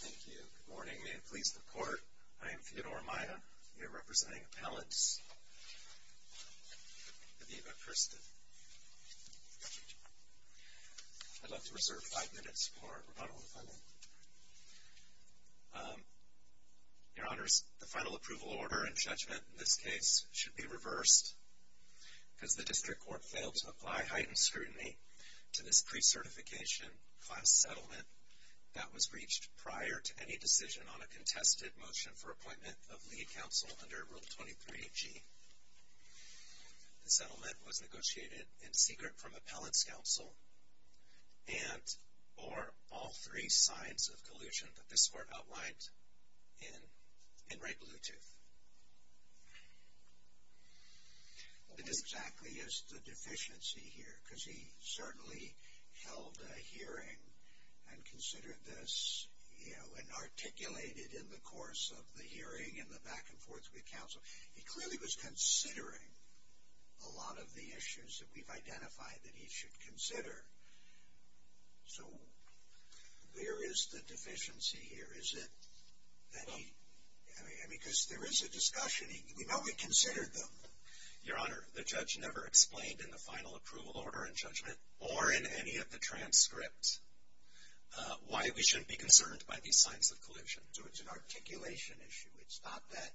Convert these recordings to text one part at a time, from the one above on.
Thank you. Good morning. May it please the Court, I am Theodore Amaya, here representing Appellants Aviva and Kirsten. I'd love to reserve five minutes for rebuttal and funding. Your Honors, the final approval order and judgment in this case should be reversed because the District Court failed to apply heightened scrutiny to this pre-certification class settlement that was reached prior to any decision on a contested motion for appointment of lead counsel under Rule 23-G. The settlement was negotiated in secret from Appellants Counsel and or all three sides of collusion that this Court outlined in Wright-Bluetooth. What exactly is the deficiency here? Because he certainly held a hearing and considered this, you know, and articulated in the course of the hearing and the back and forth with counsel. He clearly was considering a lot of the issues that we've identified that he should consider. So where is the deficiency here? Because there is a discussion. We know we considered them. Your Honor, the judge never explained in the final approval order and judgment or in any of the transcripts why we shouldn't be concerned by these signs of collusion. So it's an articulation issue. It's not that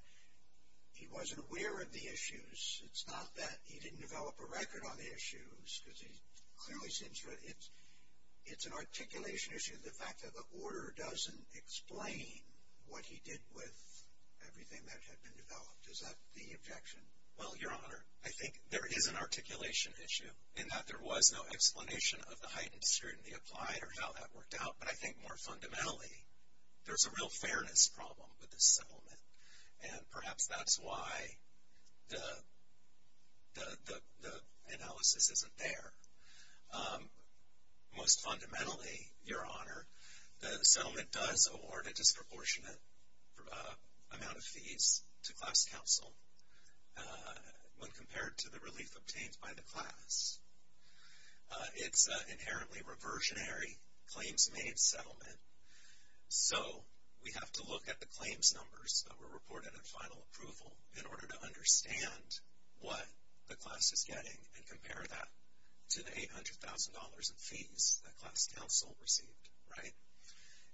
he wasn't aware of the issues. It's not that he didn't develop a record on the issues. It's an articulation issue, the fact that the order doesn't explain what he did with everything that had been developed. Is that the objection? Well, Your Honor, I think there is an articulation issue in that there was no explanation of the heightened scrutiny applied or how that worked out. But I think more fundamentally, there's a real fairness problem with this settlement. And perhaps that's why the analysis isn't there. Most fundamentally, Your Honor, the settlement does award a disproportionate amount of fees to class counsel when compared to the relief obtained by the class. It's an inherently reversionary claims-made settlement. So we have to look at the claims numbers that were reported in final approval in order to understand what the class is getting and compare that to the $800,000 in fees that class counsel received.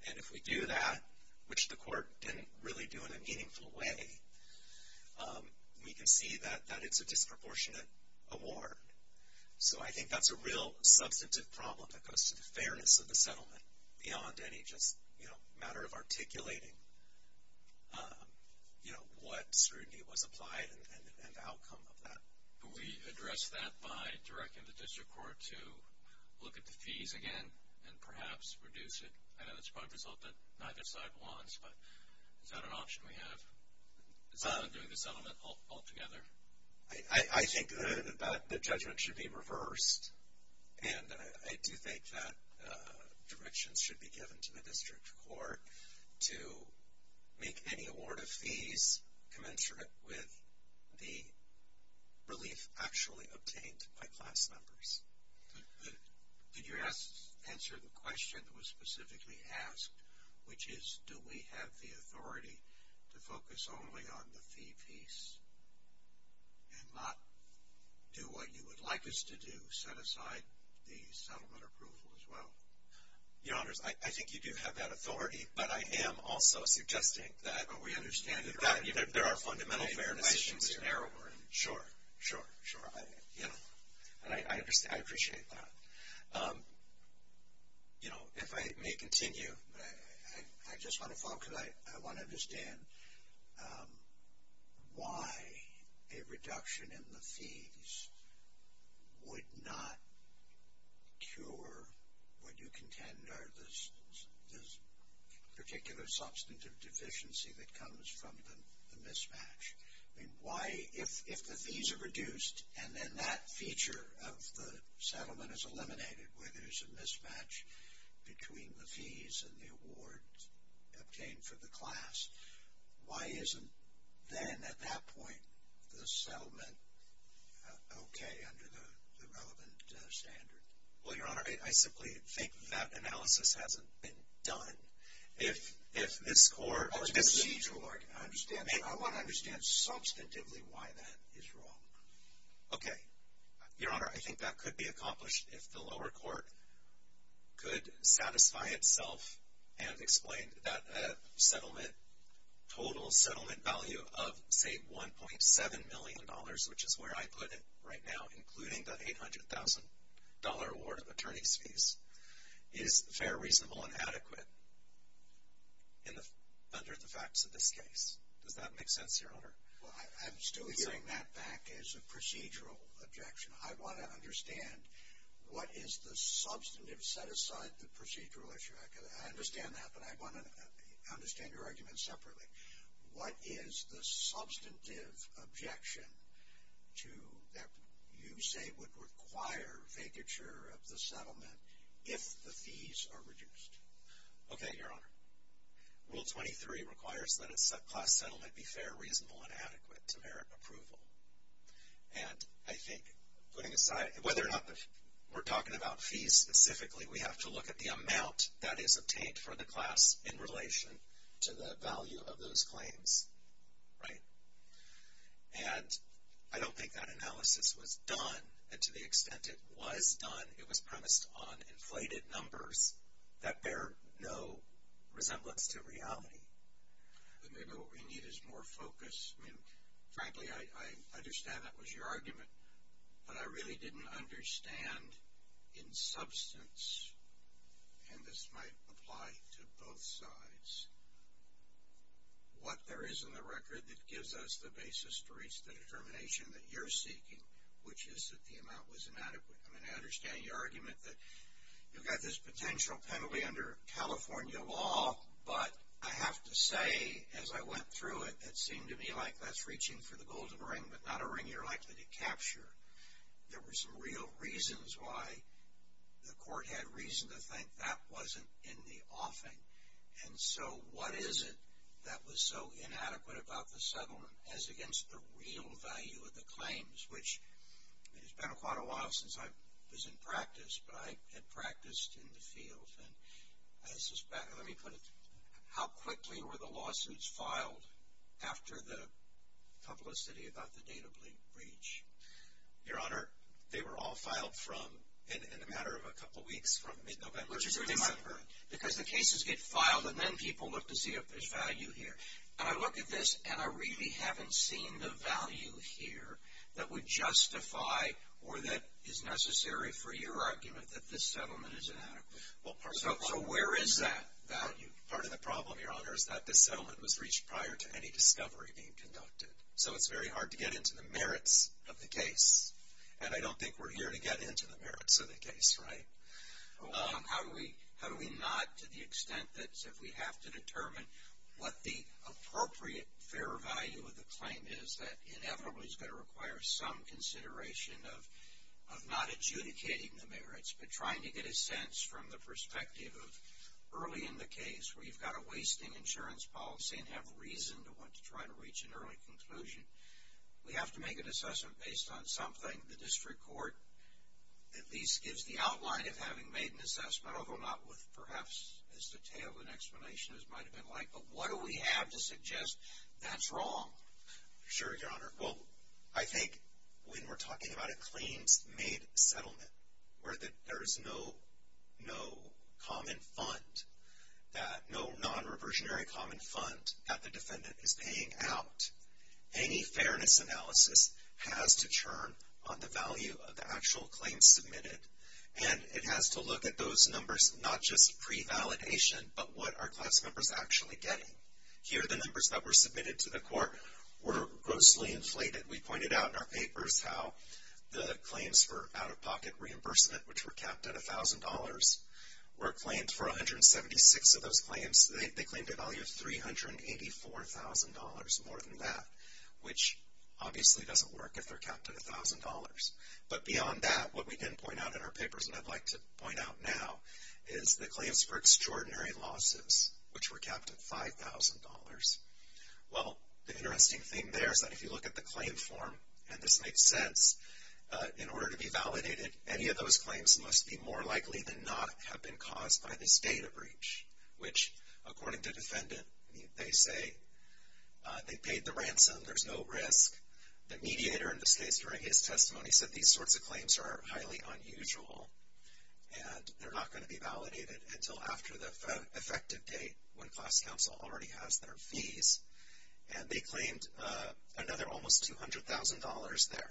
And if we do that, which the court didn't really do in a meaningful way, we can see that it's a disproportionate award. So I think that's a real substantive problem that goes to the fairness of the settlement beyond any just matter of articulating what scrutiny was applied and the outcome of that. Can we address that by directing the district court to look at the fees again and perhaps reduce it? I know that's probably a result that neither side wants, but is that an option we have? It's not undoing the settlement altogether. I think that the judgment should be reversed. And I do think that directions should be given to the district court to make any award of fees commensurate with the relief actually obtained by class numbers. Did you answer the question that was specifically asked, which is, do we have the authority to focus only on the fee piece and not do what you would like us to do, set aside the settlement approval as well? Your Honors, I think you do have that authority, but I am also suggesting that there are fundamental fairness issues here. Sure, sure, sure. I appreciate that. If I may continue, I just want to follow because I want to understand why a reduction in the fees would not cure what you contend are the particular substantive deficiency that comes from the mismatch. Why, if the fees are reduced and then that feature of the settlement is eliminated where there's a mismatch between the fees and the award obtained for the class, why isn't then at that point the settlement okay under the relevant standard? Well, Your Honor, I simply think that analysis hasn't been done. I want to understand substantively why that is wrong. Okay. Your Honor, I think that could be accomplished if the lower court could satisfy itself and explain that a settlement, total settlement value of, say, $1.7 million, which is where I put it right now, including the $800,000 award of attorney's fees, is fair, reasonable, and adequate under the facts of this case. Does that make sense, Your Honor? Well, I'm still hearing that back as a procedural objection. I want to understand what is the substantive set-aside, the procedural issue. I understand that, but I want to understand your argument separately. What is the substantive objection to that you say would require vacature of the settlement if the fees are reduced? Okay, Your Honor. Rule 23 requires that a class settlement be fair, reasonable, and adequate to merit approval. And I think putting aside whether or not we're talking about fees specifically, we have to look at the amount that is obtained for the class in relation to the value of those claims, right? And I don't think that analysis was done. And to the extent it was done, it was premised on inflated numbers that bear no resemblance to reality. Maybe what we need is more focus. Frankly, I understand that was your argument, but I really didn't understand in substance, and this might apply to both sides, what there is in the record that gives us the basis to reach the determination that you're seeking, which is that the amount was inadequate. I mean, I understand your argument that you've got this potential penalty under California law, but I have to say, as I went through it, it seemed to me like that's reaching for the golden ring, but not a ring you're likely to capture. There were some real reasons why the court had reason to think that wasn't in the offing. And so what is it that was so inadequate about the settlement as against the real value of the claims, which it's been quite a while since I was in practice, but I had practiced in the field. Let me put it, how quickly were the lawsuits filed after the publicity about the data breach? Your Honor, they were all filed in a matter of a couple weeks, from mid-November to December. Because the cases get filed, and then people look to see if there's value here. And I look at this, and I really haven't seen the value here that would justify or that is necessary for your argument that this settlement is inadequate. So where is that value? Part of the problem, Your Honor, is that this settlement was reached prior to any discovery being conducted. So it's very hard to get into the merits of the case, and I don't think we're here to get into the merits of the case, right? How do we not, to the extent that if we have to determine what the appropriate fair value of the claim is, that inevitably is going to require some consideration of not adjudicating the merits, but trying to get a sense from the perspective of early in the case where you've got a wasting insurance policy and have reason to want to try to reach an early conclusion, we have to make an assessment based on something the district court at least gives the outline of having made an assessment, although not with perhaps as detailed an explanation as might have been like. But what do we have to suggest that's wrong? Sure, Your Honor. Well, I think when we're talking about a claims-made settlement where there is no common fund, that no non-reversionary common fund at the defendant is paying out, any fairness analysis has to turn on the value of the actual claim submitted, and it has to look at those numbers, not just pre-validation, but what are class members actually getting. Here, the numbers that were submitted to the court were grossly inflated. We pointed out in our papers how the claims for out-of-pocket reimbursement, which were capped at $1,000, were claimed for 176 of those claims. They claimed a value of $384,000 more than that, which obviously doesn't work if they're capped at $1,000. But beyond that, what we didn't point out in our papers and I'd like to point out now is the claims for extraordinary losses, which were capped at $5,000. Well, the interesting thing there is that if you look at the claim form, and this makes sense, in order to be validated, any of those claims must be more likely than not have been caused by this data breach, which, according to the defendant, they say they paid the ransom, there's no risk. The mediator, in this case, during his testimony, said these sorts of claims are highly unusual and they're not going to be validated until after the effective date when class counsel already has their fees. And they claimed another almost $200,000 there.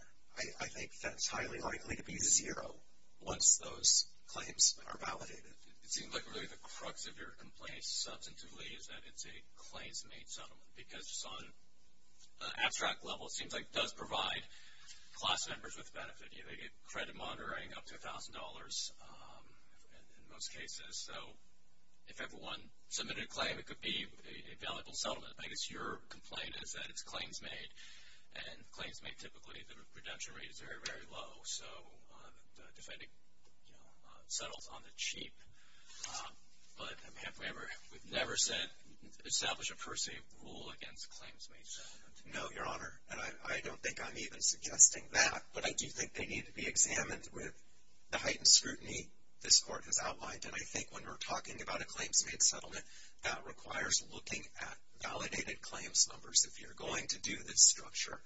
I think that's highly likely to be zero once those claims are validated. It seems like really the crux of your complaint, substantively, is that it's a claims-made settlement because just on an abstract level, it seems like it does provide class members with benefit. They get credit monitoring up to $1,000 in most cases. So if everyone submitted a claim, it could be a valuable settlement. I guess your complaint is that it's claims-made, and claims-made typically, the redemption rate is very, very low. So the defendant settles on the cheap. But we've never established a per se rule against a claims-made settlement. No, Your Honor, and I don't think I'm even suggesting that, but I do think they need to be examined with the heightened scrutiny this court has outlined. And I think when we're talking about a claims-made settlement, that requires looking at validated claims numbers if you're going to do this structure.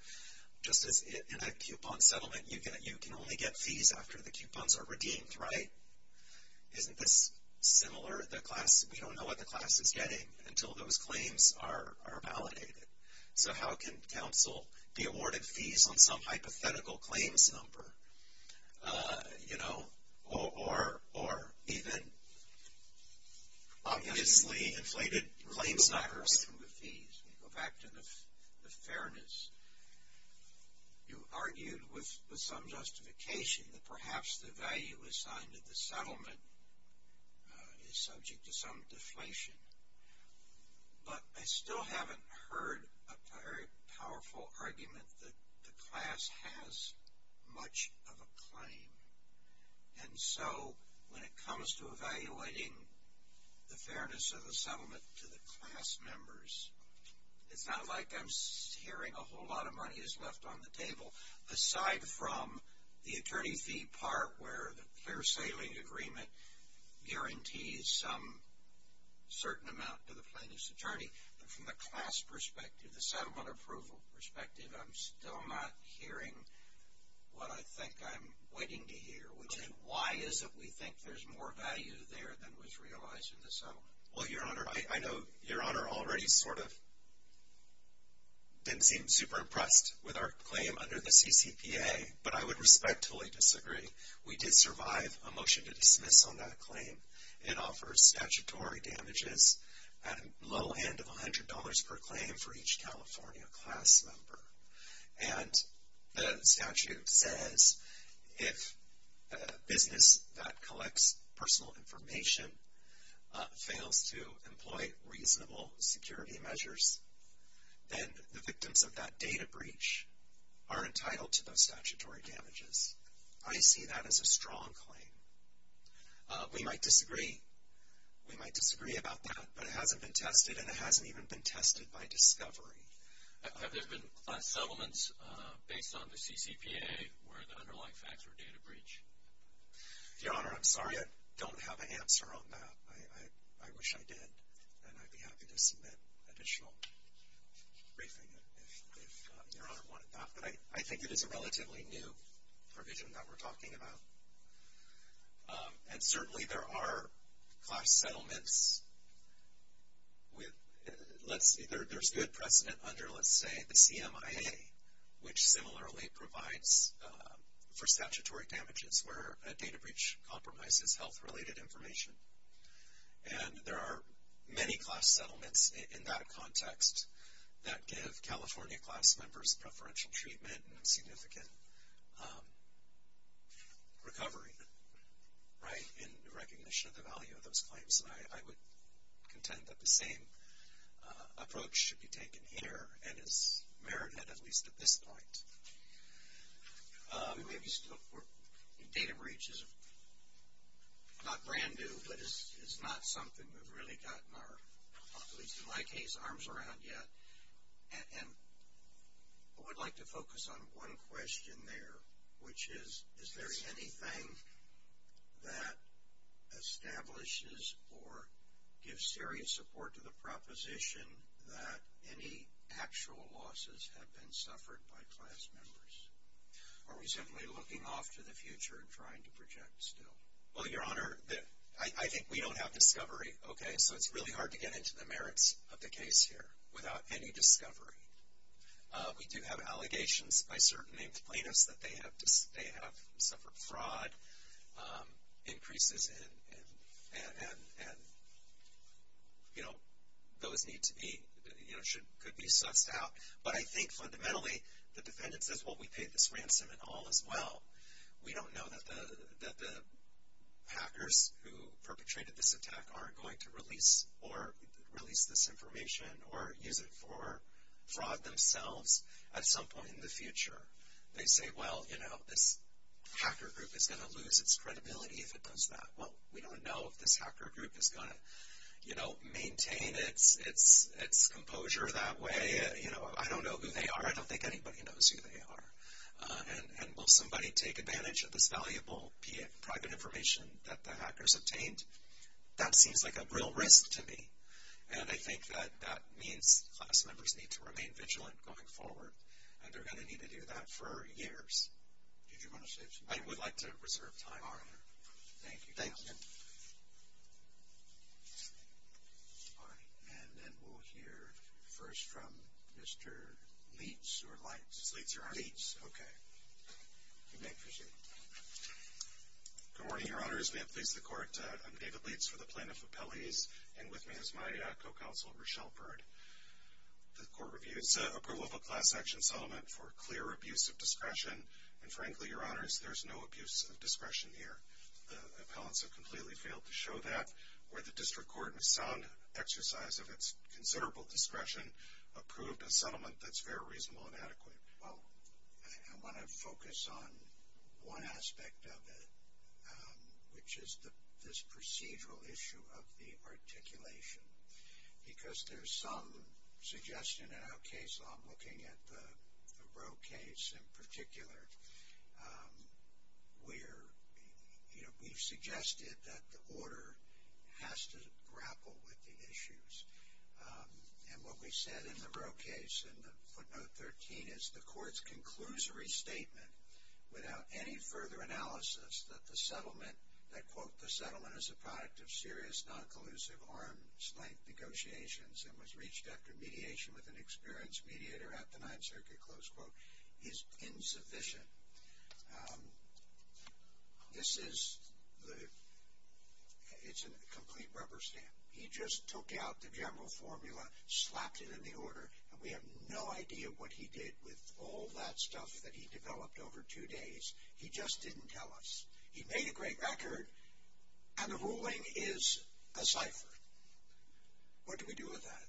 Just as in a coupon settlement, you can only get fees after the coupons are redeemed, right? Isn't this similar? We don't know what the class is getting until those claims are validated. So how can counsel be awarded fees on some hypothetical claims number, you know, or even obviously inflated claims numbers? Let me go back to the fees. Let me go back to the fairness. You argued with some justification that perhaps the value assigned to the settlement is subject to some deflation. But I still haven't heard a very powerful argument that the class has much of a claim. And so when it comes to evaluating the fairness of the settlement to the class members, it's not like I'm hearing a whole lot of money is left on the table, aside from the attorney fee part where the clear sailing agreement guarantees some certain amount to the plaintiff's attorney. But from the class perspective, the settlement approval perspective, I'm still not hearing what I think I'm waiting to hear, which is why is it we think there's more value there than was realized in the settlement? Well, Your Honor, I know Your Honor already sort of didn't seem super impressed with our claim under the CCPA, but I would respectfully disagree. We did survive a motion to dismiss on that claim. It offers statutory damages at a low end of $100 per claim for each California class member. And the statute says if a business that collects personal information fails to employ reasonable security measures, then the victims of that data breach are entitled to those statutory damages. I see that as a strong claim. We might disagree. We might disagree about that, but it hasn't been tested, and it hasn't even been tested by discovery. Have there been class settlements based on the CCPA where the underlying facts were data breach? Your Honor, I'm sorry. I don't have an answer on that. I wish I did, and I'd be happy to submit additional briefing if Your Honor wanted that. But I think it is a relatively new provision that we're talking about. And certainly there are class settlements. There's good precedent under, let's say, the CMIA, which similarly provides for statutory damages where a data breach compromises health-related information. And there are many class settlements in that context that give California class members preferential treatment and significant recovery, right, in recognition of the value of those claims. And I would contend that the same approach should be taken here and is merited at least at this point. We may be still, data breach is not brand new, but it's not something we've really gotten our, at least in my case, arms around yet. And I would like to focus on one question there, which is, is there anything that establishes or gives serious support to the proposition that any actual losses have been suffered by class members? Are we simply looking off to the future and trying to project still? Well, Your Honor, I think we don't have discovery, okay? So it's really hard to get into the merits of the case here without any discovery. We do have allegations by certain named plaintiffs that they have suffered fraud increases and, you know, those need to be, you know, could be sussed out. But I think fundamentally, the defendants say, well, we paid this ransom and all is well. We don't know that the hackers who perpetrated this attack aren't going to release this information or use it for fraud themselves at some point in the future. They say, well, you know, this hacker group is going to lose its credibility if it does that. Well, we don't know if this hacker group is going to, you know, maintain its composure that way. You know, I don't know who they are. I don't think anybody knows who they are. And will somebody take advantage of this valuable private information that the hackers obtained? That seems like a real risk to me. And I think that that means class members need to remain vigilant going forward, and they're going to need to do that for years. Did you want to say something? I would like to reserve time. All right. Thank you. Thank you. All right. And then we'll hear first from Mr. Leach or Leitz. Mr. Leitz, your honor. Leitz. Okay. You may proceed. Good morning, Your Honors. May it please the Court. I'm David Leitz for the Plaintiff Appellees. And with me is my co-counsel, Rochelle Bird. The Court reviews approval of a class action settlement for clear abuse of discretion. And frankly, Your Honors, there's no abuse of discretion here. The appellants have completely failed to show that. Where the District Court, in a sound exercise of its considerable discretion, approved a settlement that's very reasonable and adequate. Well, I want to focus on one aspect of it, which is this procedural issue of the articulation. Because there's some suggestion in our case law, I'm looking at the Roe case in particular, where we've suggested that the order has to grapple with the issues. And what we said in the Roe case, in footnote 13, is the Court's conclusory statement, without any further analysis, that the settlement, that, quote, the settlement is a product of serious non-collusive arms-length negotiations and was reached after mediation with an experienced mediator at the Ninth Circuit, close quote, is insufficient. This is the, it's a complete rubber stamp. He just took out the general formula, slapped it in the order, and we have no idea what he did with all that stuff that he developed over two days. He just didn't tell us. He made a great record, and the ruling is a cipher. What do we do with that?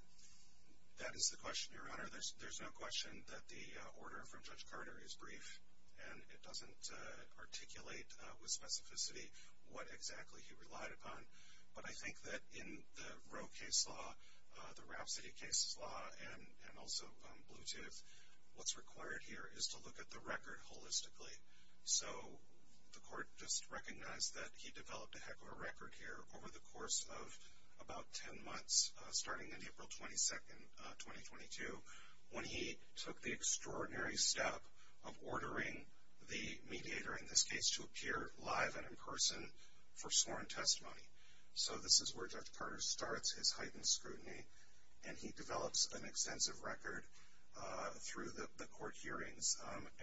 That is the question, Your Honor. There's no question that the order from Judge Carter is brief, and it doesn't articulate with specificity what exactly he relied upon. But I think that in the Roe case law, the Rhapsody case law, and also Bluetooth, what's required here is to look at the record holistically. So the Court just recognized that he developed a heck of a record here over the course of about ten months, starting in April 22, 2022, when he took the extraordinary step of ordering the mediator, in this case, to appear live and in person for sworn testimony. So this is where Judge Carter starts his heightened scrutiny, and he develops an extensive record through the court hearings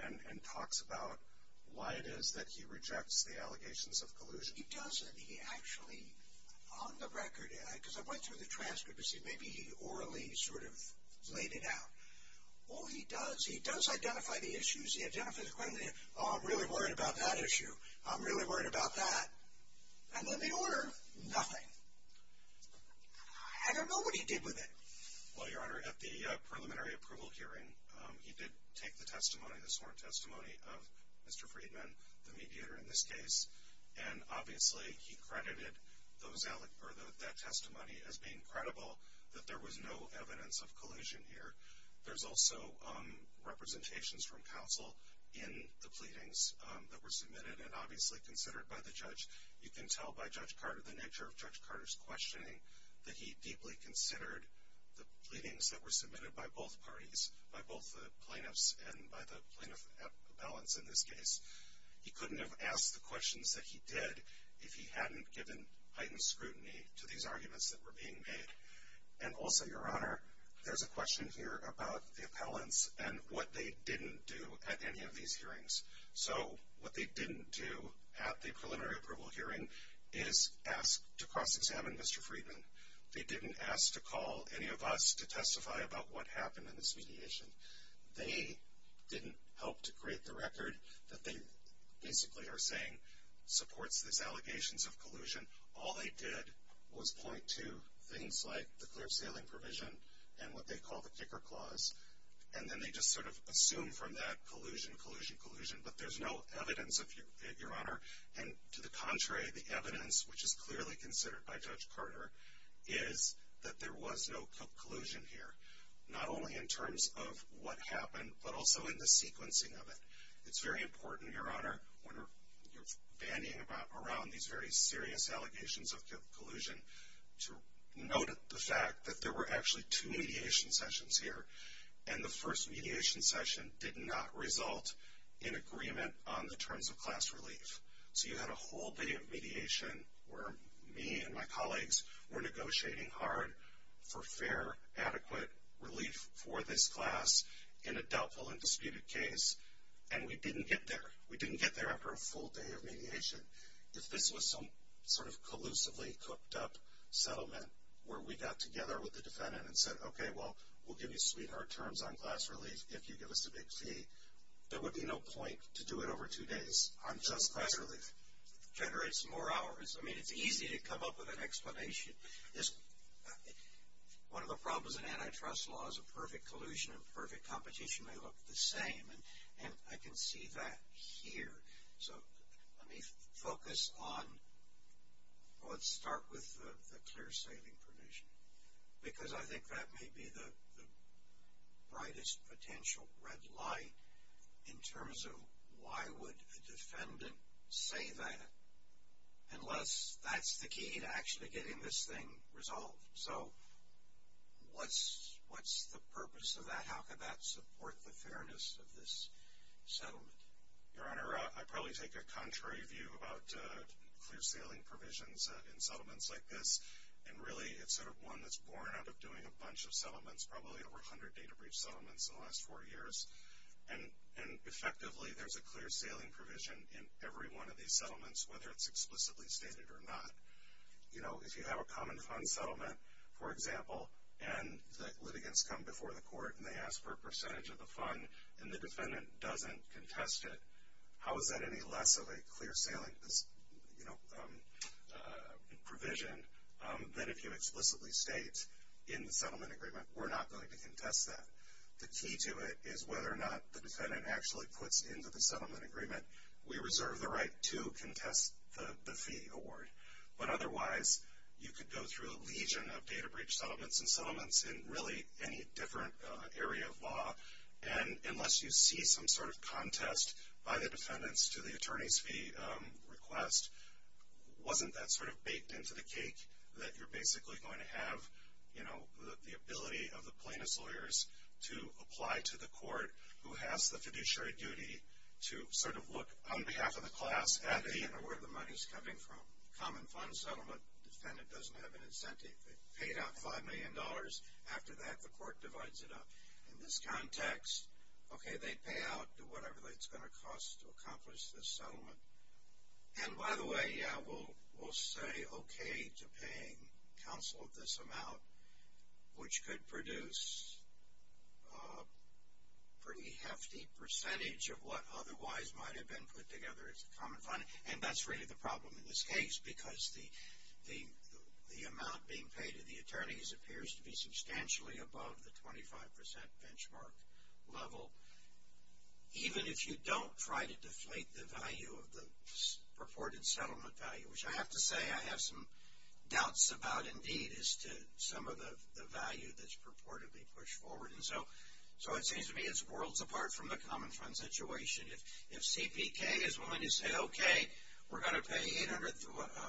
and talks about why it is that he rejects the allegations of collusion. He doesn't. He actually, on the record, because I went through the transcript to see, maybe he orally sort of laid it out. All he does, he does identify the issues. He identifies the questions. Oh, I'm really worried about that issue. I'm really worried about that. And then the order, nothing. I don't know what he did with it. Well, Your Honor, at the preliminary approval hearing, he did take the sworn testimony of Mr. Friedman, the mediator in this case, and obviously he credited that testimony as being credible, that there was no evidence of collusion here. There's also representations from counsel in the pleadings that were submitted and obviously considered by the judge. You can tell by Judge Carter, the nature of Judge Carter's questioning, that he deeply considered the pleadings that were submitted by both parties, by both the plaintiffs and by the plaintiff at balance in this case. He couldn't have asked the questions that he did if he hadn't given heightened scrutiny to these arguments that were being made. And also, Your Honor, there's a question here about the appellants and what they didn't do at any of these hearings. So what they didn't do at the preliminary approval hearing is ask to cross-examine Mr. Friedman. They didn't ask to call any of us to testify about what happened in this mediation. They didn't help to create the record that they basically are saying supports these allegations of collusion. All they did was point to things like the clear sailing provision and what they call the kicker clause, and then they just sort of assumed from that collusion, collusion, collusion, but there's no evidence, Your Honor. And to the contrary, the evidence, which is clearly considered by Judge Carter, is that there was no collusion here, not only in terms of what happened, but also in the sequencing of it. It's very important, Your Honor, when you're bandying around these very serious allegations of collusion, to note the fact that there were actually two mediation sessions here, and the first mediation session did not result in agreement on the terms of class relief. So you had a whole day of mediation where me and my colleagues were negotiating hard for fair, adequate relief for this class in a doubtful and disputed case, and we didn't get there. We didn't get there after a full day of mediation. If this was some sort of collusively cooked up settlement where we got together with the defendant and said, okay, well, we'll give you sweetheart terms on class relief if you give us a big fee, there would be no point to do it over two days on just class relief. It generates more hours. I mean, it's easy to come up with an explanation. One of the problems in antitrust law is a perfect collusion and perfect competition may look the same, and I can see that here. So let me focus on, well, let's start with the clear saving provision because I think that may be the brightest potential red light in terms of why would a defendant say that unless that's the key to actually getting this thing resolved. So what's the purpose of that? How could that support the fairness of this settlement? Your Honor, I probably take a contrary view about clear sailing provisions in settlements like this, and really it's sort of one that's born out of doing a bunch of settlements, probably over 100 data breach settlements in the last four years, and effectively there's a clear sailing provision in every one of these settlements, whether it's explicitly stated or not. You know, if you have a common fund settlement, for example, and the litigants come before the court and they ask for a percentage of the fund and the defendant doesn't contest it, how is that any less of a clear sailing provision than if you explicitly state in the settlement agreement, we're not going to contest that. The key to it is whether or not the defendant actually puts into the settlement agreement, we reserve the right to contest the fee award. But otherwise, you could go through a legion of data breach settlements and settlements in really any different area of law, and unless you see some sort of contest by the defendants to the attorney's fee request, wasn't that sort of baked into the cake that you're basically going to have, you know, the ability of the plaintiff's lawyers to apply to the court who has the fiduciary duty to sort of look on behalf of the class at where the money's coming from. Common fund settlement, defendant doesn't have an incentive. They paid out $5 million. After that, the court divides it up. In this context, okay, they pay out whatever it's going to cost to accomplish this settlement. And by the way, yeah, we'll say okay to paying counsel this amount, which could produce a pretty hefty percentage of what otherwise might have been put together as a common fund, and that's really the problem in this case because the amount being paid to the attorneys appears to be substantially above the 25% benchmark level. Even if you don't try to deflate the value of the purported settlement value, which I have to say I have some doubts about indeed as to some of the value that's purportedly pushed forward. And so it seems to me it's worlds apart from the common fund situation. If CPK is willing to say okay, we're going to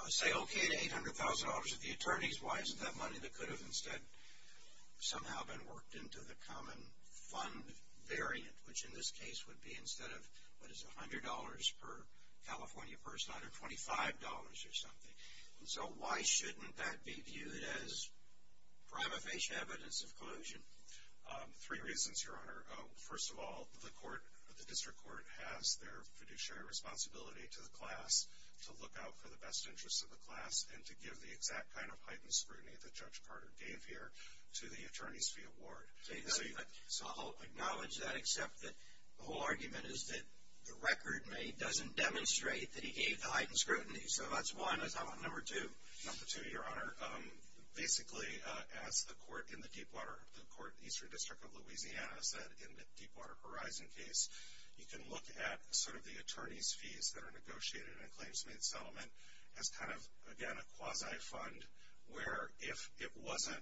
say okay to $800,000 to the attorneys, why isn't that money that could have instead somehow been worked into the common fund variant, which in this case would be instead of what is $100 per California person, either $25 or something. So why shouldn't that be viewed as prima facie evidence of collusion? Three reasons, Your Honor. First of all, the court, the district court has their fiduciary responsibility to the class to look out for the best interests of the class and to give the exact kind of heightened scrutiny that Judge Carter gave here to the attorneys to be awarded. So I'll acknowledge that, except that the whole argument is that the record made doesn't demonstrate that he gave the heightened scrutiny. So that's one. Number two. Number two, Your Honor. Basically, as the court in the Deepwater, the Eastern District of Louisiana said in the Deepwater Horizon case, you can look at sort of the attorney's fees that are negotiated in a claims-made settlement as kind of, again, a quasi-fund where if it wasn't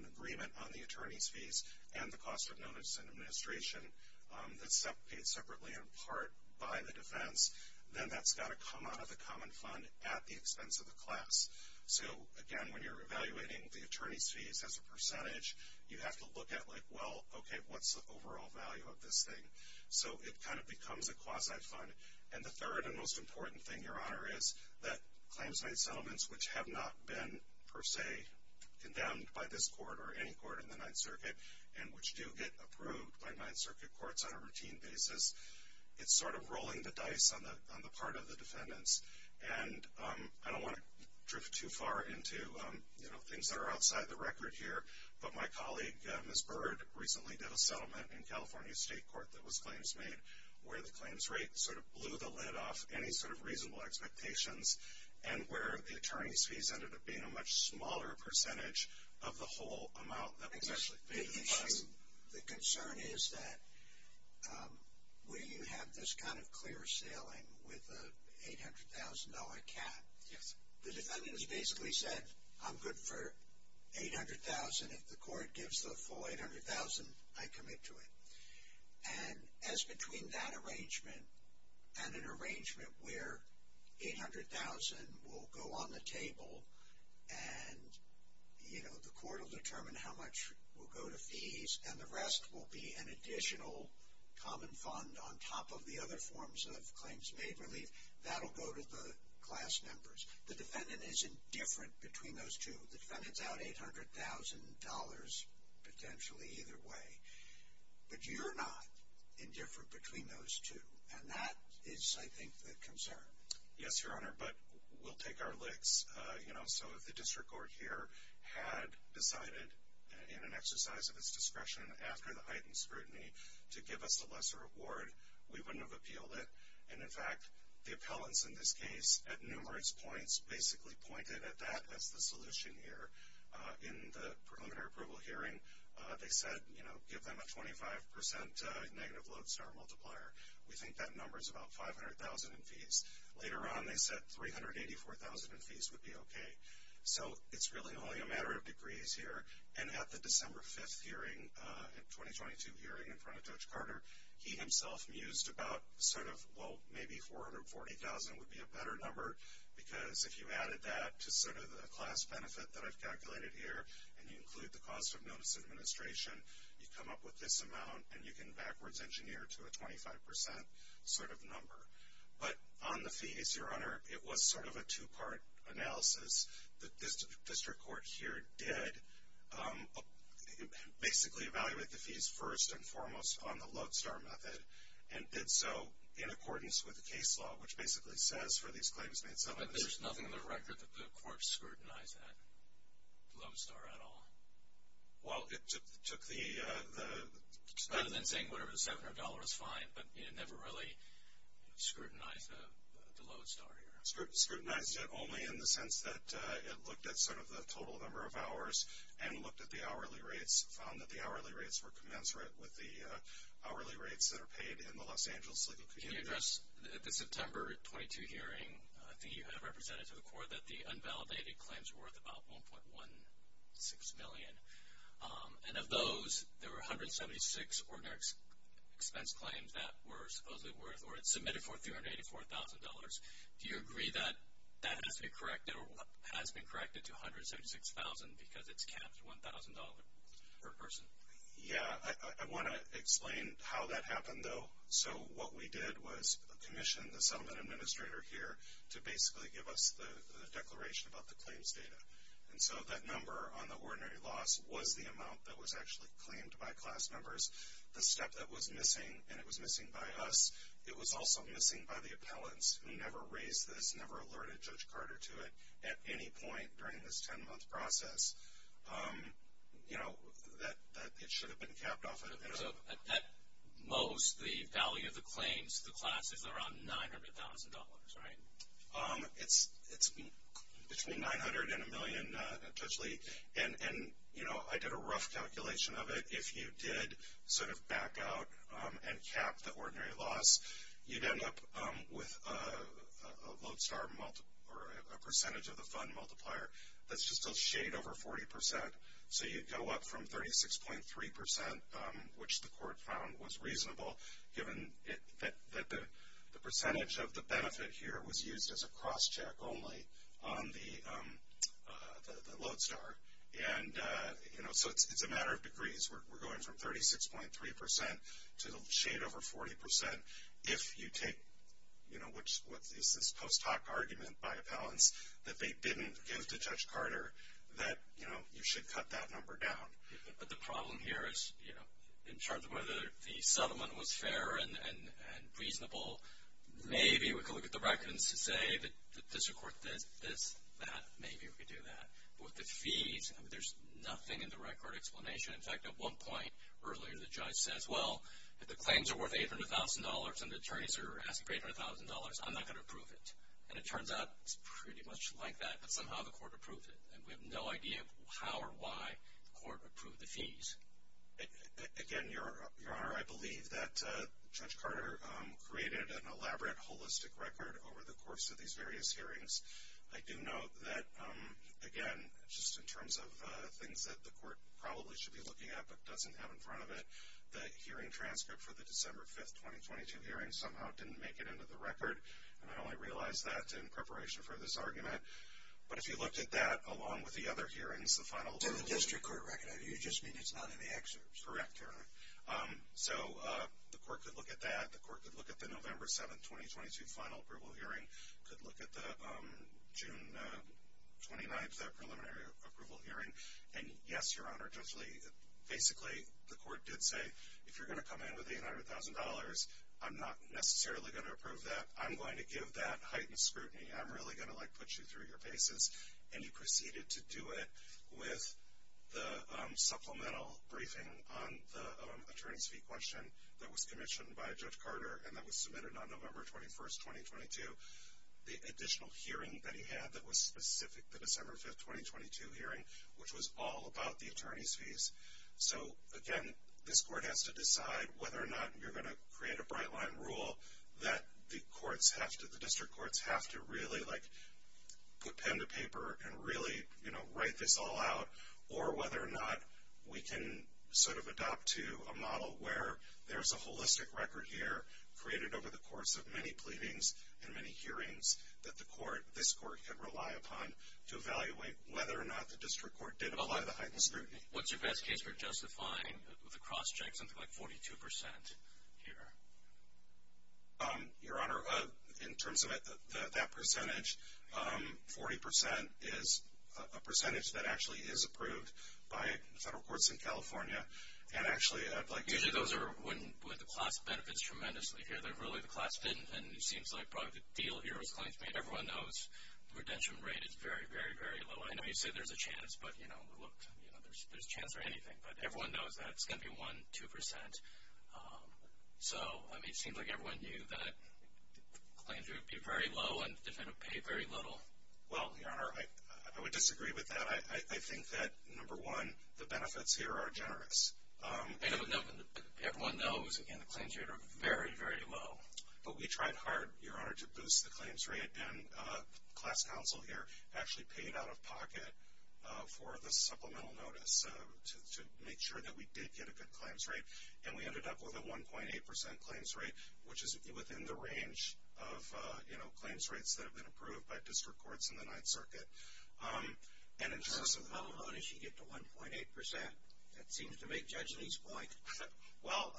an agreement on the attorney's fees and the cost of notice and administration that's paid separately in part by the defense, then that's got to come out of the common fund at the expense of the class. So, again, when you're evaluating the attorney's fees as a percentage, you have to look at, like, well, okay, what's the overall value of this thing? So it kind of becomes a quasi-fund. And the third and most important thing, Your Honor, is that claims-made settlements, which have not been, per se, condemned by this court or any court in the Ninth Circuit and which do get approved by Ninth Circuit courts on a routine basis, it's sort of rolling the dice on the part of the defendants. And I don't want to drift too far into, you know, things that are outside the record here, but my colleague, Ms. Bird, recently did a settlement in California State Court that was claims-made where the claims rate sort of blew the lid off any sort of reasonable expectations and where the attorney's fees ended up being a much smaller percentage of the whole amount that was actually paid to the class. The issue, the concern is that when you have this kind of clear ceiling with an $800,000 cap, the defendants basically said, I'm good for $800,000. If the court gives the full $800,000, I commit to it. And as between that arrangement and an arrangement where $800,000 will go on the table and, you know, the court will determine how much will go to fees and the rest will be an additional common fund on top of the other forms of claims-made relief, that will go to the class members. The defendant is indifferent between those two. The defendant's out $800,000 potentially either way. But you're not indifferent between those two, and that is, I think, the concern. Yes, Your Honor, but we'll take our licks. You know, so if the district court here had decided in an exercise of its discretion after the heightened scrutiny to give us a lesser award, we wouldn't have appealed it. And, in fact, the appellants in this case at numerous points basically pointed at that as the solution here. In the preliminary approval hearing, they said, you know, give them a 25% negative lodestar multiplier. We think that number is about $500,000 in fees. Later on, they said $384,000 in fees would be okay. So it's really only a matter of degrees here. And at the December 5th hearing, the 2022 hearing in front of Judge Carter, he himself mused about sort of, well, maybe $440,000 would be a better number, because if you added that to sort of the class benefit that I've calculated here, and you include the cost of notice administration, you come up with this amount, and you can backwards engineer to a 25% sort of number. But on the fees, Your Honor, it was sort of a two-part analysis. The district court here did basically evaluate the fees first and foremost on the lodestar method and did so in accordance with the case law, which basically says for these claims made submissive. But there's nothing in the record that the court scrutinized that lodestar at all? Well, it took the expense. Rather than saying whatever the $700 is fine, but it never really scrutinized the lodestar here. It scrutinized it only in the sense that it looked at sort of the total number of hours and looked at the hourly rates, found that the hourly rates were commensurate with the hourly rates that are paid in the Los Angeles legal community. Can you address the September 22 hearing? I think you had represented to the court that the unvalidated claims were worth about $1.16 million. And of those, there were 176 ordinary expense claims that were supposedly worth or had submitted for $384,000. Do you agree that that has been corrected to $176,000 because it's capped at $1,000 per person? Yeah, I want to explain how that happened, though. So what we did was commission the settlement administrator here to basically give us the declaration about the claims data. And so that number on the ordinary loss was the amount that was actually claimed by class members. The step that was missing, and it was missing by us, it was also missing by the appellants who never raised this, never alerted Judge Carter to it at any point during this ten-month process. You know, it should have been capped off. So at most, the value of the claims to the class is around $900,000, right? It's between $900,000 and a million, Judge Lee. And, you know, I did a rough calculation of it. If you did sort of back out and cap the ordinary loss, you'd end up with a load star or a percentage of the fund multiplier that's just a shade over 40%. So you'd go up from 36.3%, which the court found was reasonable, given that the percentage of the benefit here was used as a crosscheck only on the load star. And, you know, so it's a matter of degrees. We're going from 36.3% to a shade over 40%. If you take, you know, what is this post hoc argument by appellants that they didn't give to Judge Carter, that, you know, you should cut that number down. But the problem here is, you know, in terms of whether the settlement was fair and reasonable, maybe we could look at the records to say that the district court did this, that. Maybe we could do that. But with the fees, there's nothing in the record explanation. In fact, at one point earlier, the judge says, well, if the claims are worth $800,000 and the attorneys are asking for $800,000, I'm not going to approve it. And it turns out it's pretty much like that, but somehow the court approved it. And we have no idea how or why the court approved the fees. Again, Your Honor, I believe that Judge Carter created an elaborate, holistic record over the course of these various hearings. I do note that, again, just in terms of things that the court probably should be looking at but doesn't have in front of it, the hearing transcript for the December 5th, 2022 hearing somehow didn't make it into the record. And I only realized that in preparation for this argument. But if you looked at that along with the other hearings, the final verbal hearing. To the district court record. You just mean it's not in the excerpts. Correct, Your Honor. So the court could look at that. The court could look at the November 7th, 2022 final verbal hearing. Could look at the June 29th preliminary approval hearing. And, yes, Your Honor, basically the court did say, if you're going to come in with $800,000, I'm not necessarily going to approve that. I'm going to give that heightened scrutiny. I'm really going to put you through your paces. And you proceeded to do it with the supplemental briefing on the attorney's fee question that was commissioned by Judge Carter and that was submitted on November 21st, 2022. The additional hearing that he had that was specific to the December 5th, 2022 hearing, which was all about the attorney's fees. So, again, this court has to decide whether or not you're going to create a bright line rule that the district courts have to really put pen to paper and really write this all out. Or whether or not we can sort of adopt to a model where there's a holistic record here created over the course of many pleadings and many hearings that the court, this court, can rely upon to evaluate whether or not the district court did apply the heightened scrutiny. What's your best case for justifying the cross-check, something like 42% here? Your Honor, in terms of that percentage, 40% is a percentage that actually is approved by the federal courts in California. And, actually, I'd like to... Usually those are when the class benefits tremendously here. Really, the class didn't, and it seems like probably the deal here was claimed to be everyone knows the redemption rate is very, very, very low. I know you say there's a chance, but, you know, look, there's a chance for anything. But everyone knows that it's going to be 1%, 2%. So, I mean, it seems like everyone knew that the claims rate would be very low and they're going to pay very little. Well, Your Honor, I would disagree with that. I think that, number one, the benefits here are generous. Everyone knows, again, the claims rate are very, very low. But we tried hard, Your Honor, to boost the claims rate. And the class counsel here actually paid out of pocket for the supplemental notice to make sure that we did get a good claims rate. And we ended up with a 1.8% claims rate, which is within the range of, you know, claims rates that have been approved by district courts in the Ninth Circuit. And in terms of... How low did she get to 1.8%? That seems to make Judge Lee's point. Well,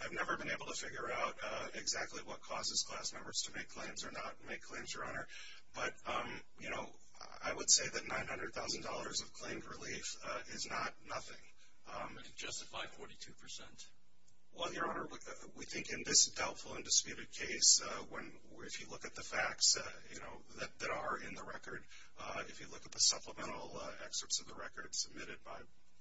I've never been able to figure out exactly what causes class members to make claims or not make claims, Your Honor. But, you know, I would say that $900,000 of claimed relief is not nothing. And you've justified 42%? Well, Your Honor, we think in this doubtful and disputed case, if you look at the facts that are in the record, if you look at the supplemental excerpts of the record submitted by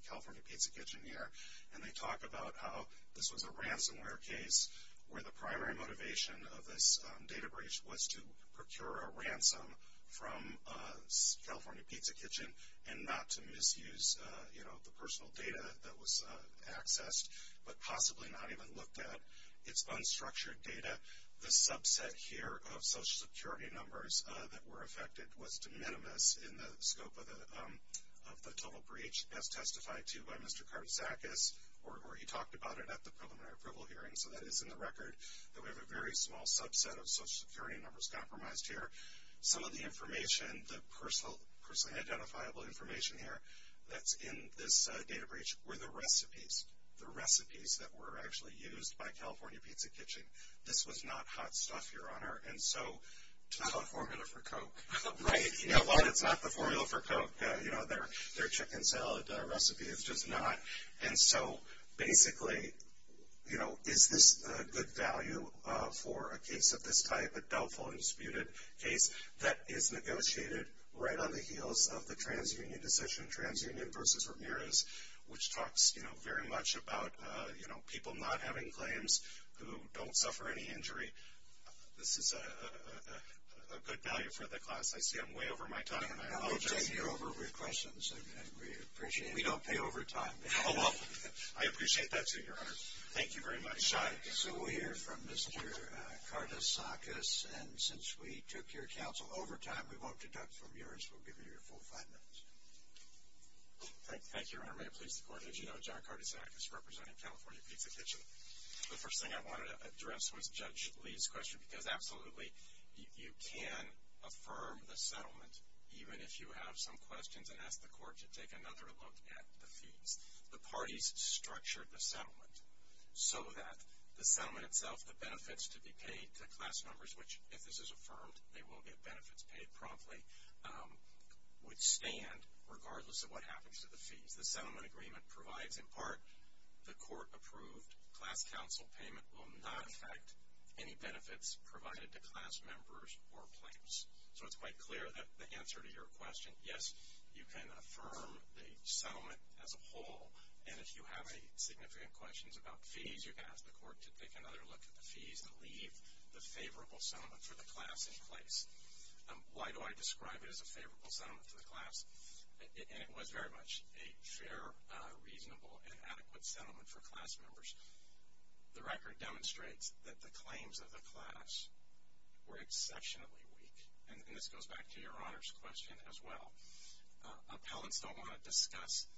California Pizza Kitchen here, and they talk about how this was a ransomware case where the primary motivation of this data breach was to procure a ransom from California Pizza Kitchen and not to misuse, you know, the personal data that was accessed, but possibly not even looked at. It's unstructured data. The subset here of Social Security numbers that were affected was de minimis in the scope of the total breach, as testified to by Mr. Karsakis, or he talked about it at the preliminary approval hearing. So that is in the record that we have a very small subset of Social Security numbers compromised here. Some of the information, the personally identifiable information here that's in this data breach, were the recipes, the recipes that were actually used by California Pizza Kitchen. This was not hot stuff, Your Honor. And so to the formula for Coke, right? You know, while it's not the formula for Coke, you know, their chicken salad recipe is just not. And so basically, you know, is this a good value for a case of this type, a doubtful and disputed case that is negotiated right on the heels of the TransUnion decision, TransUnion versus Ramirez, which talks, you know, very much about, you know, people not having claims who don't suffer any injury. This is a good value for the class. I see I'm way over my time, and I apologize. You're over with questions, and we appreciate it. We don't pay overtime. Oh, well, I appreciate that, too, Your Honor. Thank you very much. So we'll hear from Mr. Kardasakis. And since we took your counsel over time, we won't deduct from yours. We'll give you your full five minutes. Thank you, Your Honor. May it please the Court, as you know, John Kardasakis, representing California Pizza Kitchen. The first thing I wanted to address was Judge Lee's question, because absolutely you can affirm the settlement even if you have some questions and ask the Court to take another look at the fees. The parties structured the settlement so that the settlement itself, the benefits to be paid to class members, which, if this is affirmed, they will get benefits paid promptly, would stand regardless of what happens to the fees. The settlement agreement provides, in part, the court-approved class counsel payment will not affect any benefits provided to class members or plaintiffs. So it's quite clear that the answer to your question, yes, you can affirm the settlement as a whole. And if you have any significant questions about fees, you can ask the Court to take another look at the fees and leave the favorable settlement for the class in place. Why do I describe it as a favorable settlement for the class? And it was very much a fair, reasonable, and adequate settlement for class members. The record demonstrates that the claims of the class were exceptionally weak. And this goes back to your Honor's question as well. Appellants don't want to discuss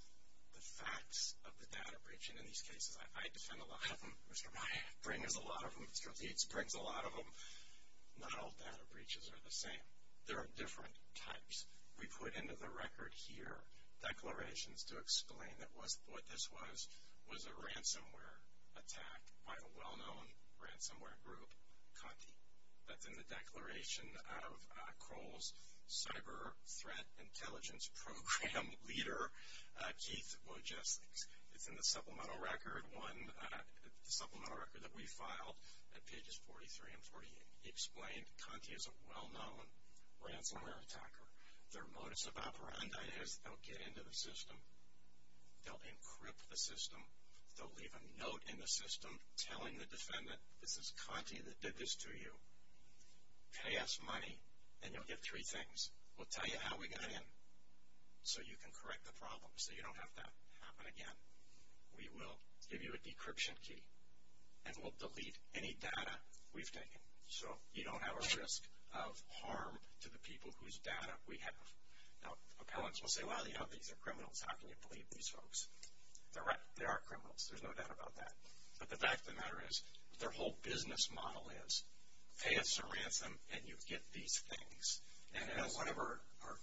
the facts of the data breach. And in these cases, I defend a lot of them. Mr. Meyer brings a lot of them. Mr. Leeds brings a lot of them. Not all data breaches are the same. There are different types. We put into the record here declarations to explain that what this was was a ransomware attack by the well-known ransomware group, Conti. That's in the declaration of Kroll's Cyber Threat Intelligence Program leader, Keith Wojcicki. It's in the supplemental record that we filed at pages 43 and 48. He explained Conti is a well-known ransomware attacker. Their modus operandi is they'll get into the system. They'll encrypt the system. They'll leave a note in the system telling the defendant, this is Conti that did this to you. Pay us money, and you'll get three things. We'll tell you how we got in so you can correct the problem so you don't have that happen again. We will give you a decryption key, and we'll delete any data we've taken so you don't have a risk of harm to the people whose data we have. Now, appellants will say, well, you know, these are criminals. How can you believe these folks? They're right. They are criminals. There's no doubt about that. But the fact of the matter is their whole business model is pay us a ransom, and you get these things. And one of our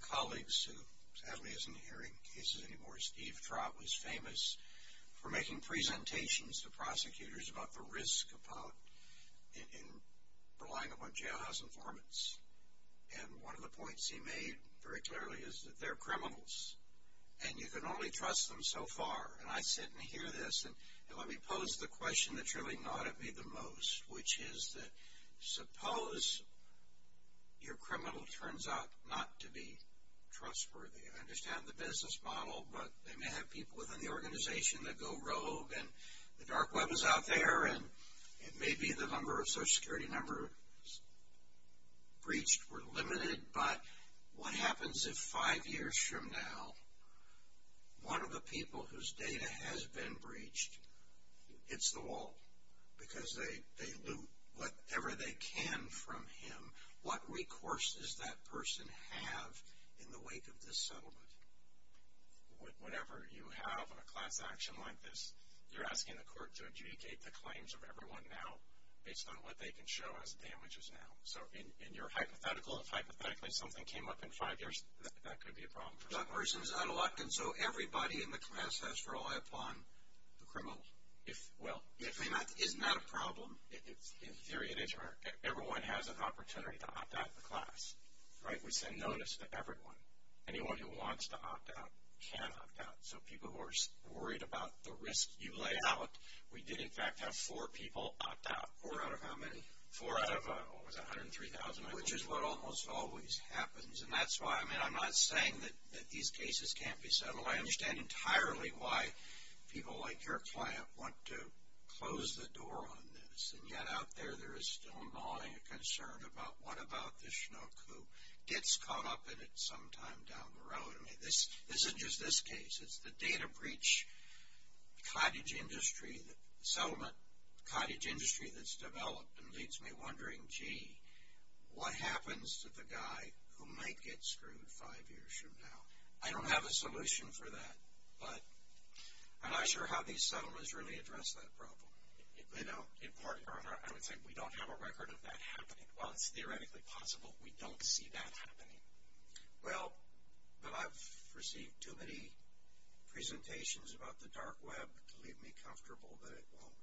colleagues who sadly isn't hearing cases anymore, Steve Trott, was famous for making presentations to prosecutors about the risk in relying upon jailhouse informants. And one of the points he made very clearly is that they're criminals, and you can only trust them so far. And I sit and hear this. And let me pose the question that's really gnawed at me the most, which is that suppose your criminal turns out not to be trustworthy. I understand the business model, but they may have people within the organization that go rogue, and the dark web is out there, and maybe the number of Social Security numbers breached were limited. But what happens if five years from now, one of the people whose data has been breached hits the wall because they loot whatever they can from him? What recourse does that person have in the wake of this settlement? Whenever you have a class action like this, you're asking the court to adjudicate the claims of everyone now based on what they can show as damages now. So in your hypothetical, if hypothetically something came up in five years, that could be a problem. That person's unelected, so everybody in the class has to rely upon the criminal. Well, isn't that a problem? In theory it is. Everyone has an opportunity to opt out of the class. We send notice to everyone. Anyone who wants to opt out can opt out. So people who are worried about the risk you lay out, we did, in fact, have four people opt out. Four out of how many? Four out of what was it, 103,000? Which is what almost always happens. And that's why, I mean, I'm not saying that these cases can't be settled. I understand entirely why people like your client want to close the door on this. And yet out there there is still gnawing and concern about what about this schnook who gets caught up in it sometime down the road. I mean, this isn't just this case. It's the data breach cottage industry, the settlement cottage industry that's developed and leads me wondering, gee, what happens to the guy who might get screwed five years from now? I don't have a solution for that, but I'm not sure how these settlements really address that problem. They don't. In part, I would say we don't have a record of that happening. While it's theoretically possible, we don't see that happening. Well, but I've received too many presentations about the dark web to leave me comfortable that it won't.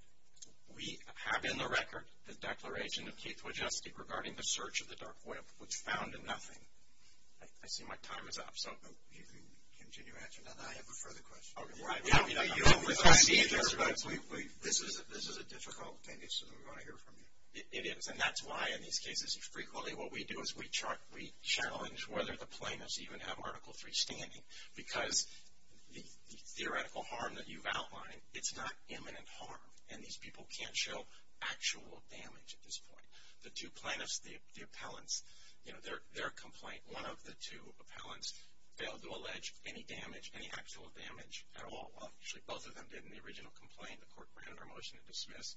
We have in the record the declaration of Keith Wojcicki regarding the search of the dark web, which found nothing. I see my time is up, so. You can continue after that. I have a further question. Oh, right. This is a difficult thing. We want to hear from you. It is, and that's why in these cases, frequently what we do is we challenge whether the plaintiffs even have Article III standing because the theoretical harm that you've outlined, it's not imminent harm, and these people can't show actual damage at this point. The two plaintiffs, the appellants, their complaint, one of the two appellants failed to allege any damage, any actual damage at all. Well, actually both of them did in the original complaint. The court granted our motion to dismiss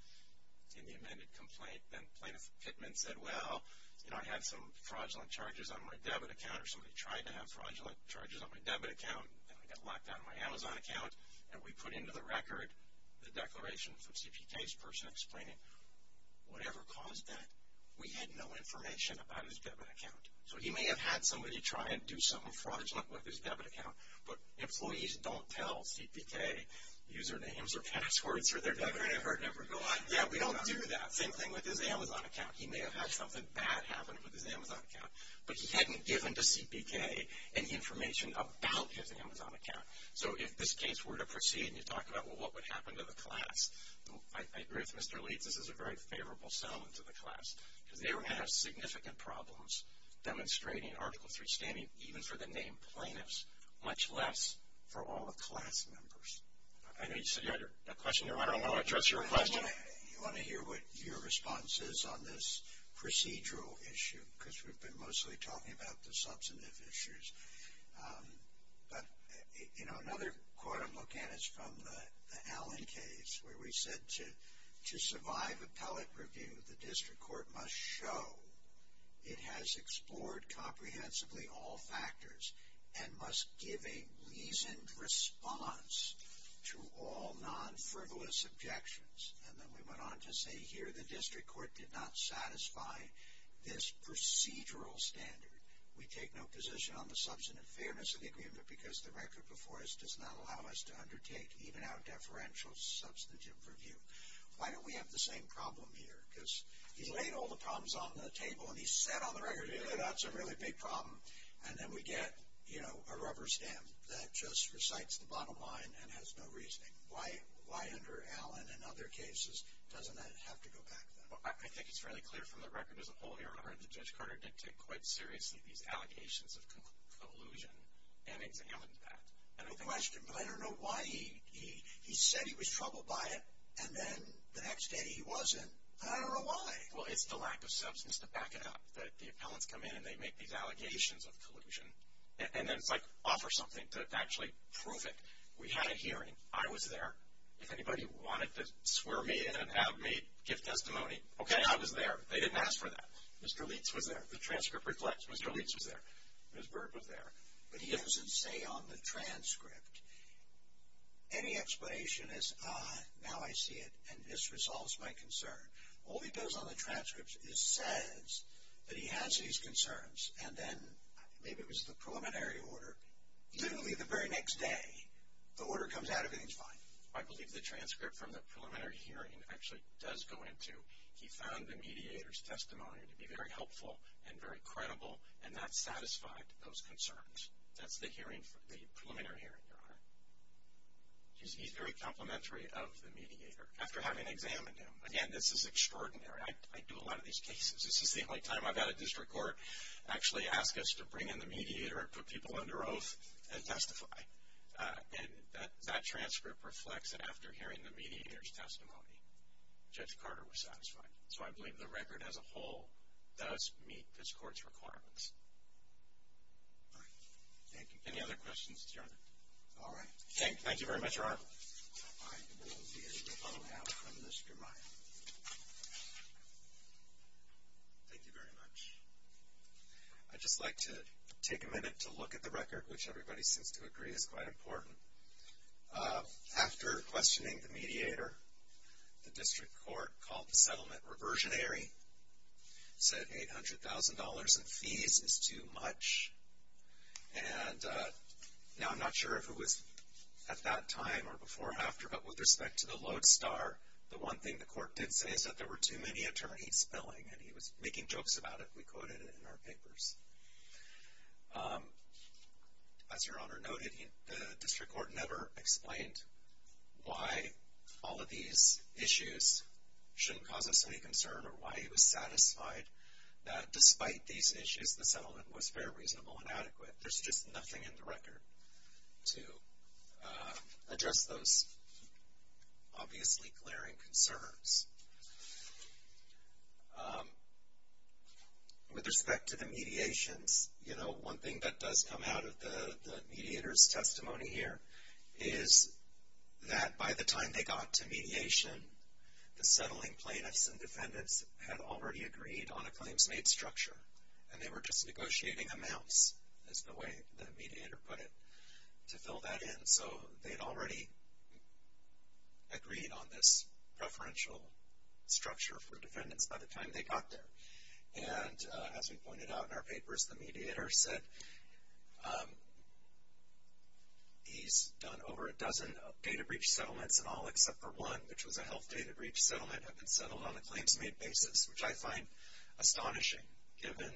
in the amended complaint. Then Plaintiff Pittman said, well, you know, I had some fraudulent charges on my debit account or somebody tried to have fraudulent charges on my debit account, and I got locked out of my Amazon account, and we put into the record the declaration from CPK's person explaining whatever caused that, we had no information about his debit account. So he may have had somebody try and do something fraudulent with his debit account, but employees don't tell CPK usernames or passwords for their debit account. Yeah, we don't do that. Same thing with his Amazon account. He may have had something bad happen with his Amazon account, but he hadn't given to CPK any information about his Amazon account. So if this case were to proceed, and you talk about what would happen to the class, I agree with Mr. Leeds, this is a very favorable settlement to the class because they were going to have significant problems demonstrating Article III standing, even for the named plaintiffs, much less for all the class members. I know you said you had a question there. I don't know how to address your question. You want to hear what your response is on this procedural issue because we've been mostly talking about the substantive issues. But, you know, another quote I'm looking at is from the Allen case where we said to survive appellate review, the district court must show it has explored comprehensively all factors and must give a reasoned response to all non-frivolous objections. And then we went on to say here the district court did not satisfy this procedural standard. We take no position on the substantive fairness of the agreement because the record before us does not allow us to undertake even our deferential substantive review. Why don't we have the same problem here? Because he laid all the problems on the table and he said on the record, that's a really big problem. And then we get, you know, a rubber stamp that just recites the bottom line and has no reasoning. Why under Allen and other cases doesn't that have to go back then? I think it's fairly clear from the record as a whole here that Judge Carter did take quite seriously these allegations of collusion and examined that. But I don't know why he said he was troubled by it and then the next day he wasn't, and I don't know why. Well, it's the lack of substance to back it up, that the appellants come in and they make these allegations of collusion and then offer something to actually prove it. We had a hearing. I was there. If anybody wanted to swear me in and have me give testimony, okay, I was there. They didn't ask for that. Mr. Leitz was there. The transcript reflects. Mr. Leitz was there. Ms. Bird was there. But he doesn't say on the transcript any explanation as, ah, now I see it and this resolves my concern. All he does on the transcript is says that he has these concerns and then maybe it was the preliminary order. Literally the very next day the order comes out, everything's fine. I believe the transcript from the preliminary hearing actually does go into he found the mediator's testimony to be very helpful and very credible and that satisfied those concerns. That's the preliminary hearing, Your Honor. He's very complimentary of the mediator. After having examined him, again, this is extraordinary. I do a lot of these cases. This is the only time I've had a district court actually ask us to bring in the mediator and put people under oath and testify. And that transcript reflects that after hearing the mediator's testimony, Judge Carter was satisfied. So I believe the record as a whole does meet this court's requirements. Thank you. All right. Thank you very much, Your Honor. I will hand it over now to Mr. Meyer. Thank you very much. I'd just like to take a minute to look at the record, which everybody seems to agree is quite important. After questioning the mediator, the district court called the settlement reversionary, said $800,000 in fees is too much. And now I'm not sure if it was at that time or before or after, but with respect to the lodestar, the one thing the court did say is that there were too many attorneys billing, and he was making jokes about it. We quoted it in our papers. As Your Honor noted, the district court never explained why all of these issues shouldn't cause us any concern or why he was satisfied that despite these issues, the settlement was fair, reasonable, and adequate. There's just nothing in the record to address those obviously glaring concerns. With respect to the mediations, one thing that does come out of the mediator's testimony here is that by the time they got to mediation, the settling plaintiffs and defendants had already agreed on a claims made structure, and they were just negotiating amounts is the way the mediator put it to fill that in. So they'd already agreed on this preferential structure for defendants by the time they got there. And as we pointed out in our papers, the mediator said he's done over a dozen data breach settlements in all except for one, which was a health data breach settlement that had been settled on a claims made basis, which I find astonishing given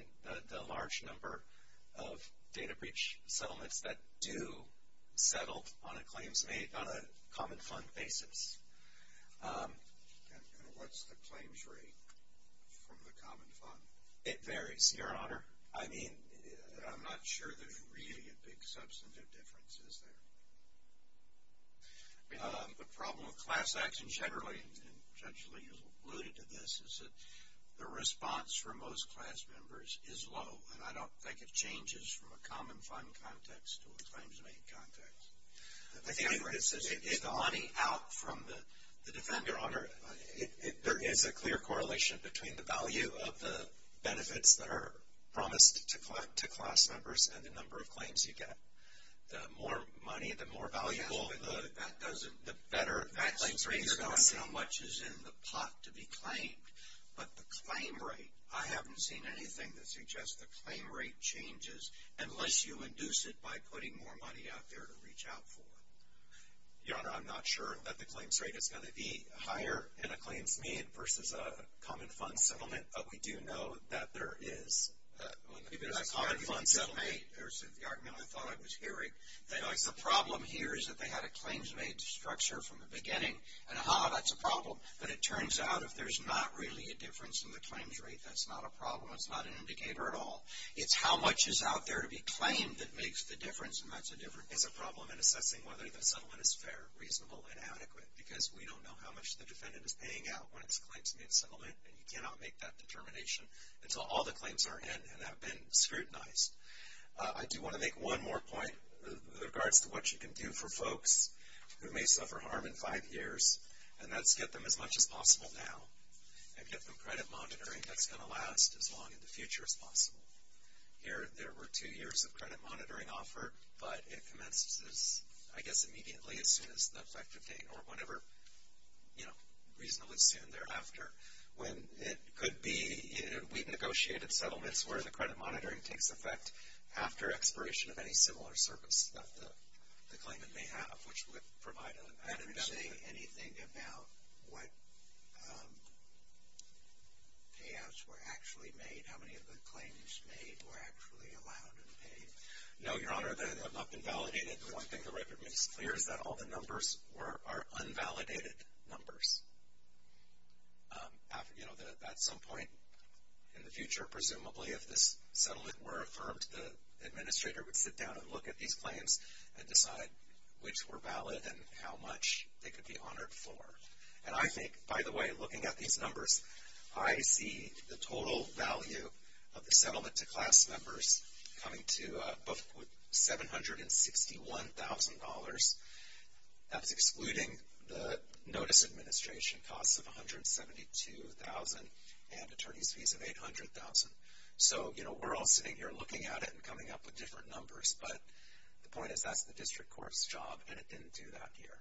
the large number of data breach settlements that do settle on a claims made on a common fund basis. And what's the claims rate from the common fund? It varies, Your Honor. I mean, I'm not sure there's really a big substantive difference, is there? The problem with class action generally, and Judge Lee alluded to this, is that the response from most class members is low, and I don't think it changes from a common fund context to a claims made context. I think it's the money out from the defendant. Your Honor, there is a clear correlation between the value of the benefits that are promised to class members and the number of claims you get. The more money, the more valuable, the better. The claims rate is going to depend on how much is in the pot to be claimed. But the claim rate, I haven't seen anything that suggests the claim rate changes unless you induce it by putting more money out there to reach out for it. Your Honor, I'm not sure that the claims rate is going to be higher in a claims made versus a common fund settlement, but we do know that there is. In a common fund settlement, there's the argument I thought I was hearing, that the problem here is that they had a claims made structure from the beginning, and aha, that's a problem. But it turns out if there's not really a difference in the claims rate, that's not a problem. It's not an indicator at all. It's how much is out there to be claimed that makes the difference, and that's a problem in assessing whether the settlement is fair, reasonable, and adequate, because we don't know how much the defendant is paying out when it's a claims made settlement, and you cannot make that determination until all the claims are in and have been scrutinized. I do want to make one more point in regards to what you can do for folks who may suffer harm in five years, and that's get them as much as possible now and get them credit monitoring that's going to last as long in the future as possible. Here, there were two years of credit monitoring offered, but it commences, I guess, immediately as soon as the effective date, or whenever reasonably soon thereafter, when it could be. We've negotiated settlements where the credit monitoring takes effect after expiration of any similar service that the claimant may have, which would provide an advantage. Are you saying anything about what payouts were actually made, how many of the claims made were actually allowed and paid? No, Your Honor, they have not been validated. The one thing the record makes clear is that all the numbers are unvalidated numbers. At some point in the future, presumably, if this settlement were affirmed, the administrator would sit down and look at these claims and decide which were valid and how much they could be honored for. And I think, by the way, looking at these numbers, I see the total value of the settlement to class members coming to $761,000. That's excluding the notice administration costs of $172,000 and attorney's fees of $800,000. So, you know, we're all sitting here looking at it and coming up with different numbers, but the point is that's the district court's job, and it didn't do that here.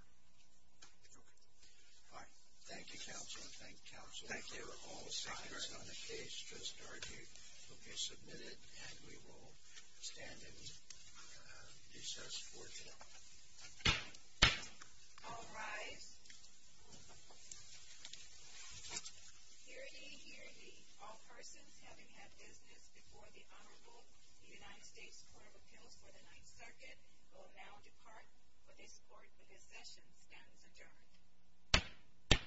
Okay. All right. Thank you, counsel. Thank you, counsel. Thank you. All seconds on the case just argued will be submitted, and we will stand and recess for today. All rise. Hear, ye, hear, ye. All persons having had business before the Honorable United States Court of Appeals for the Ninth Circuit will now depart for this court where this session stands adjourned.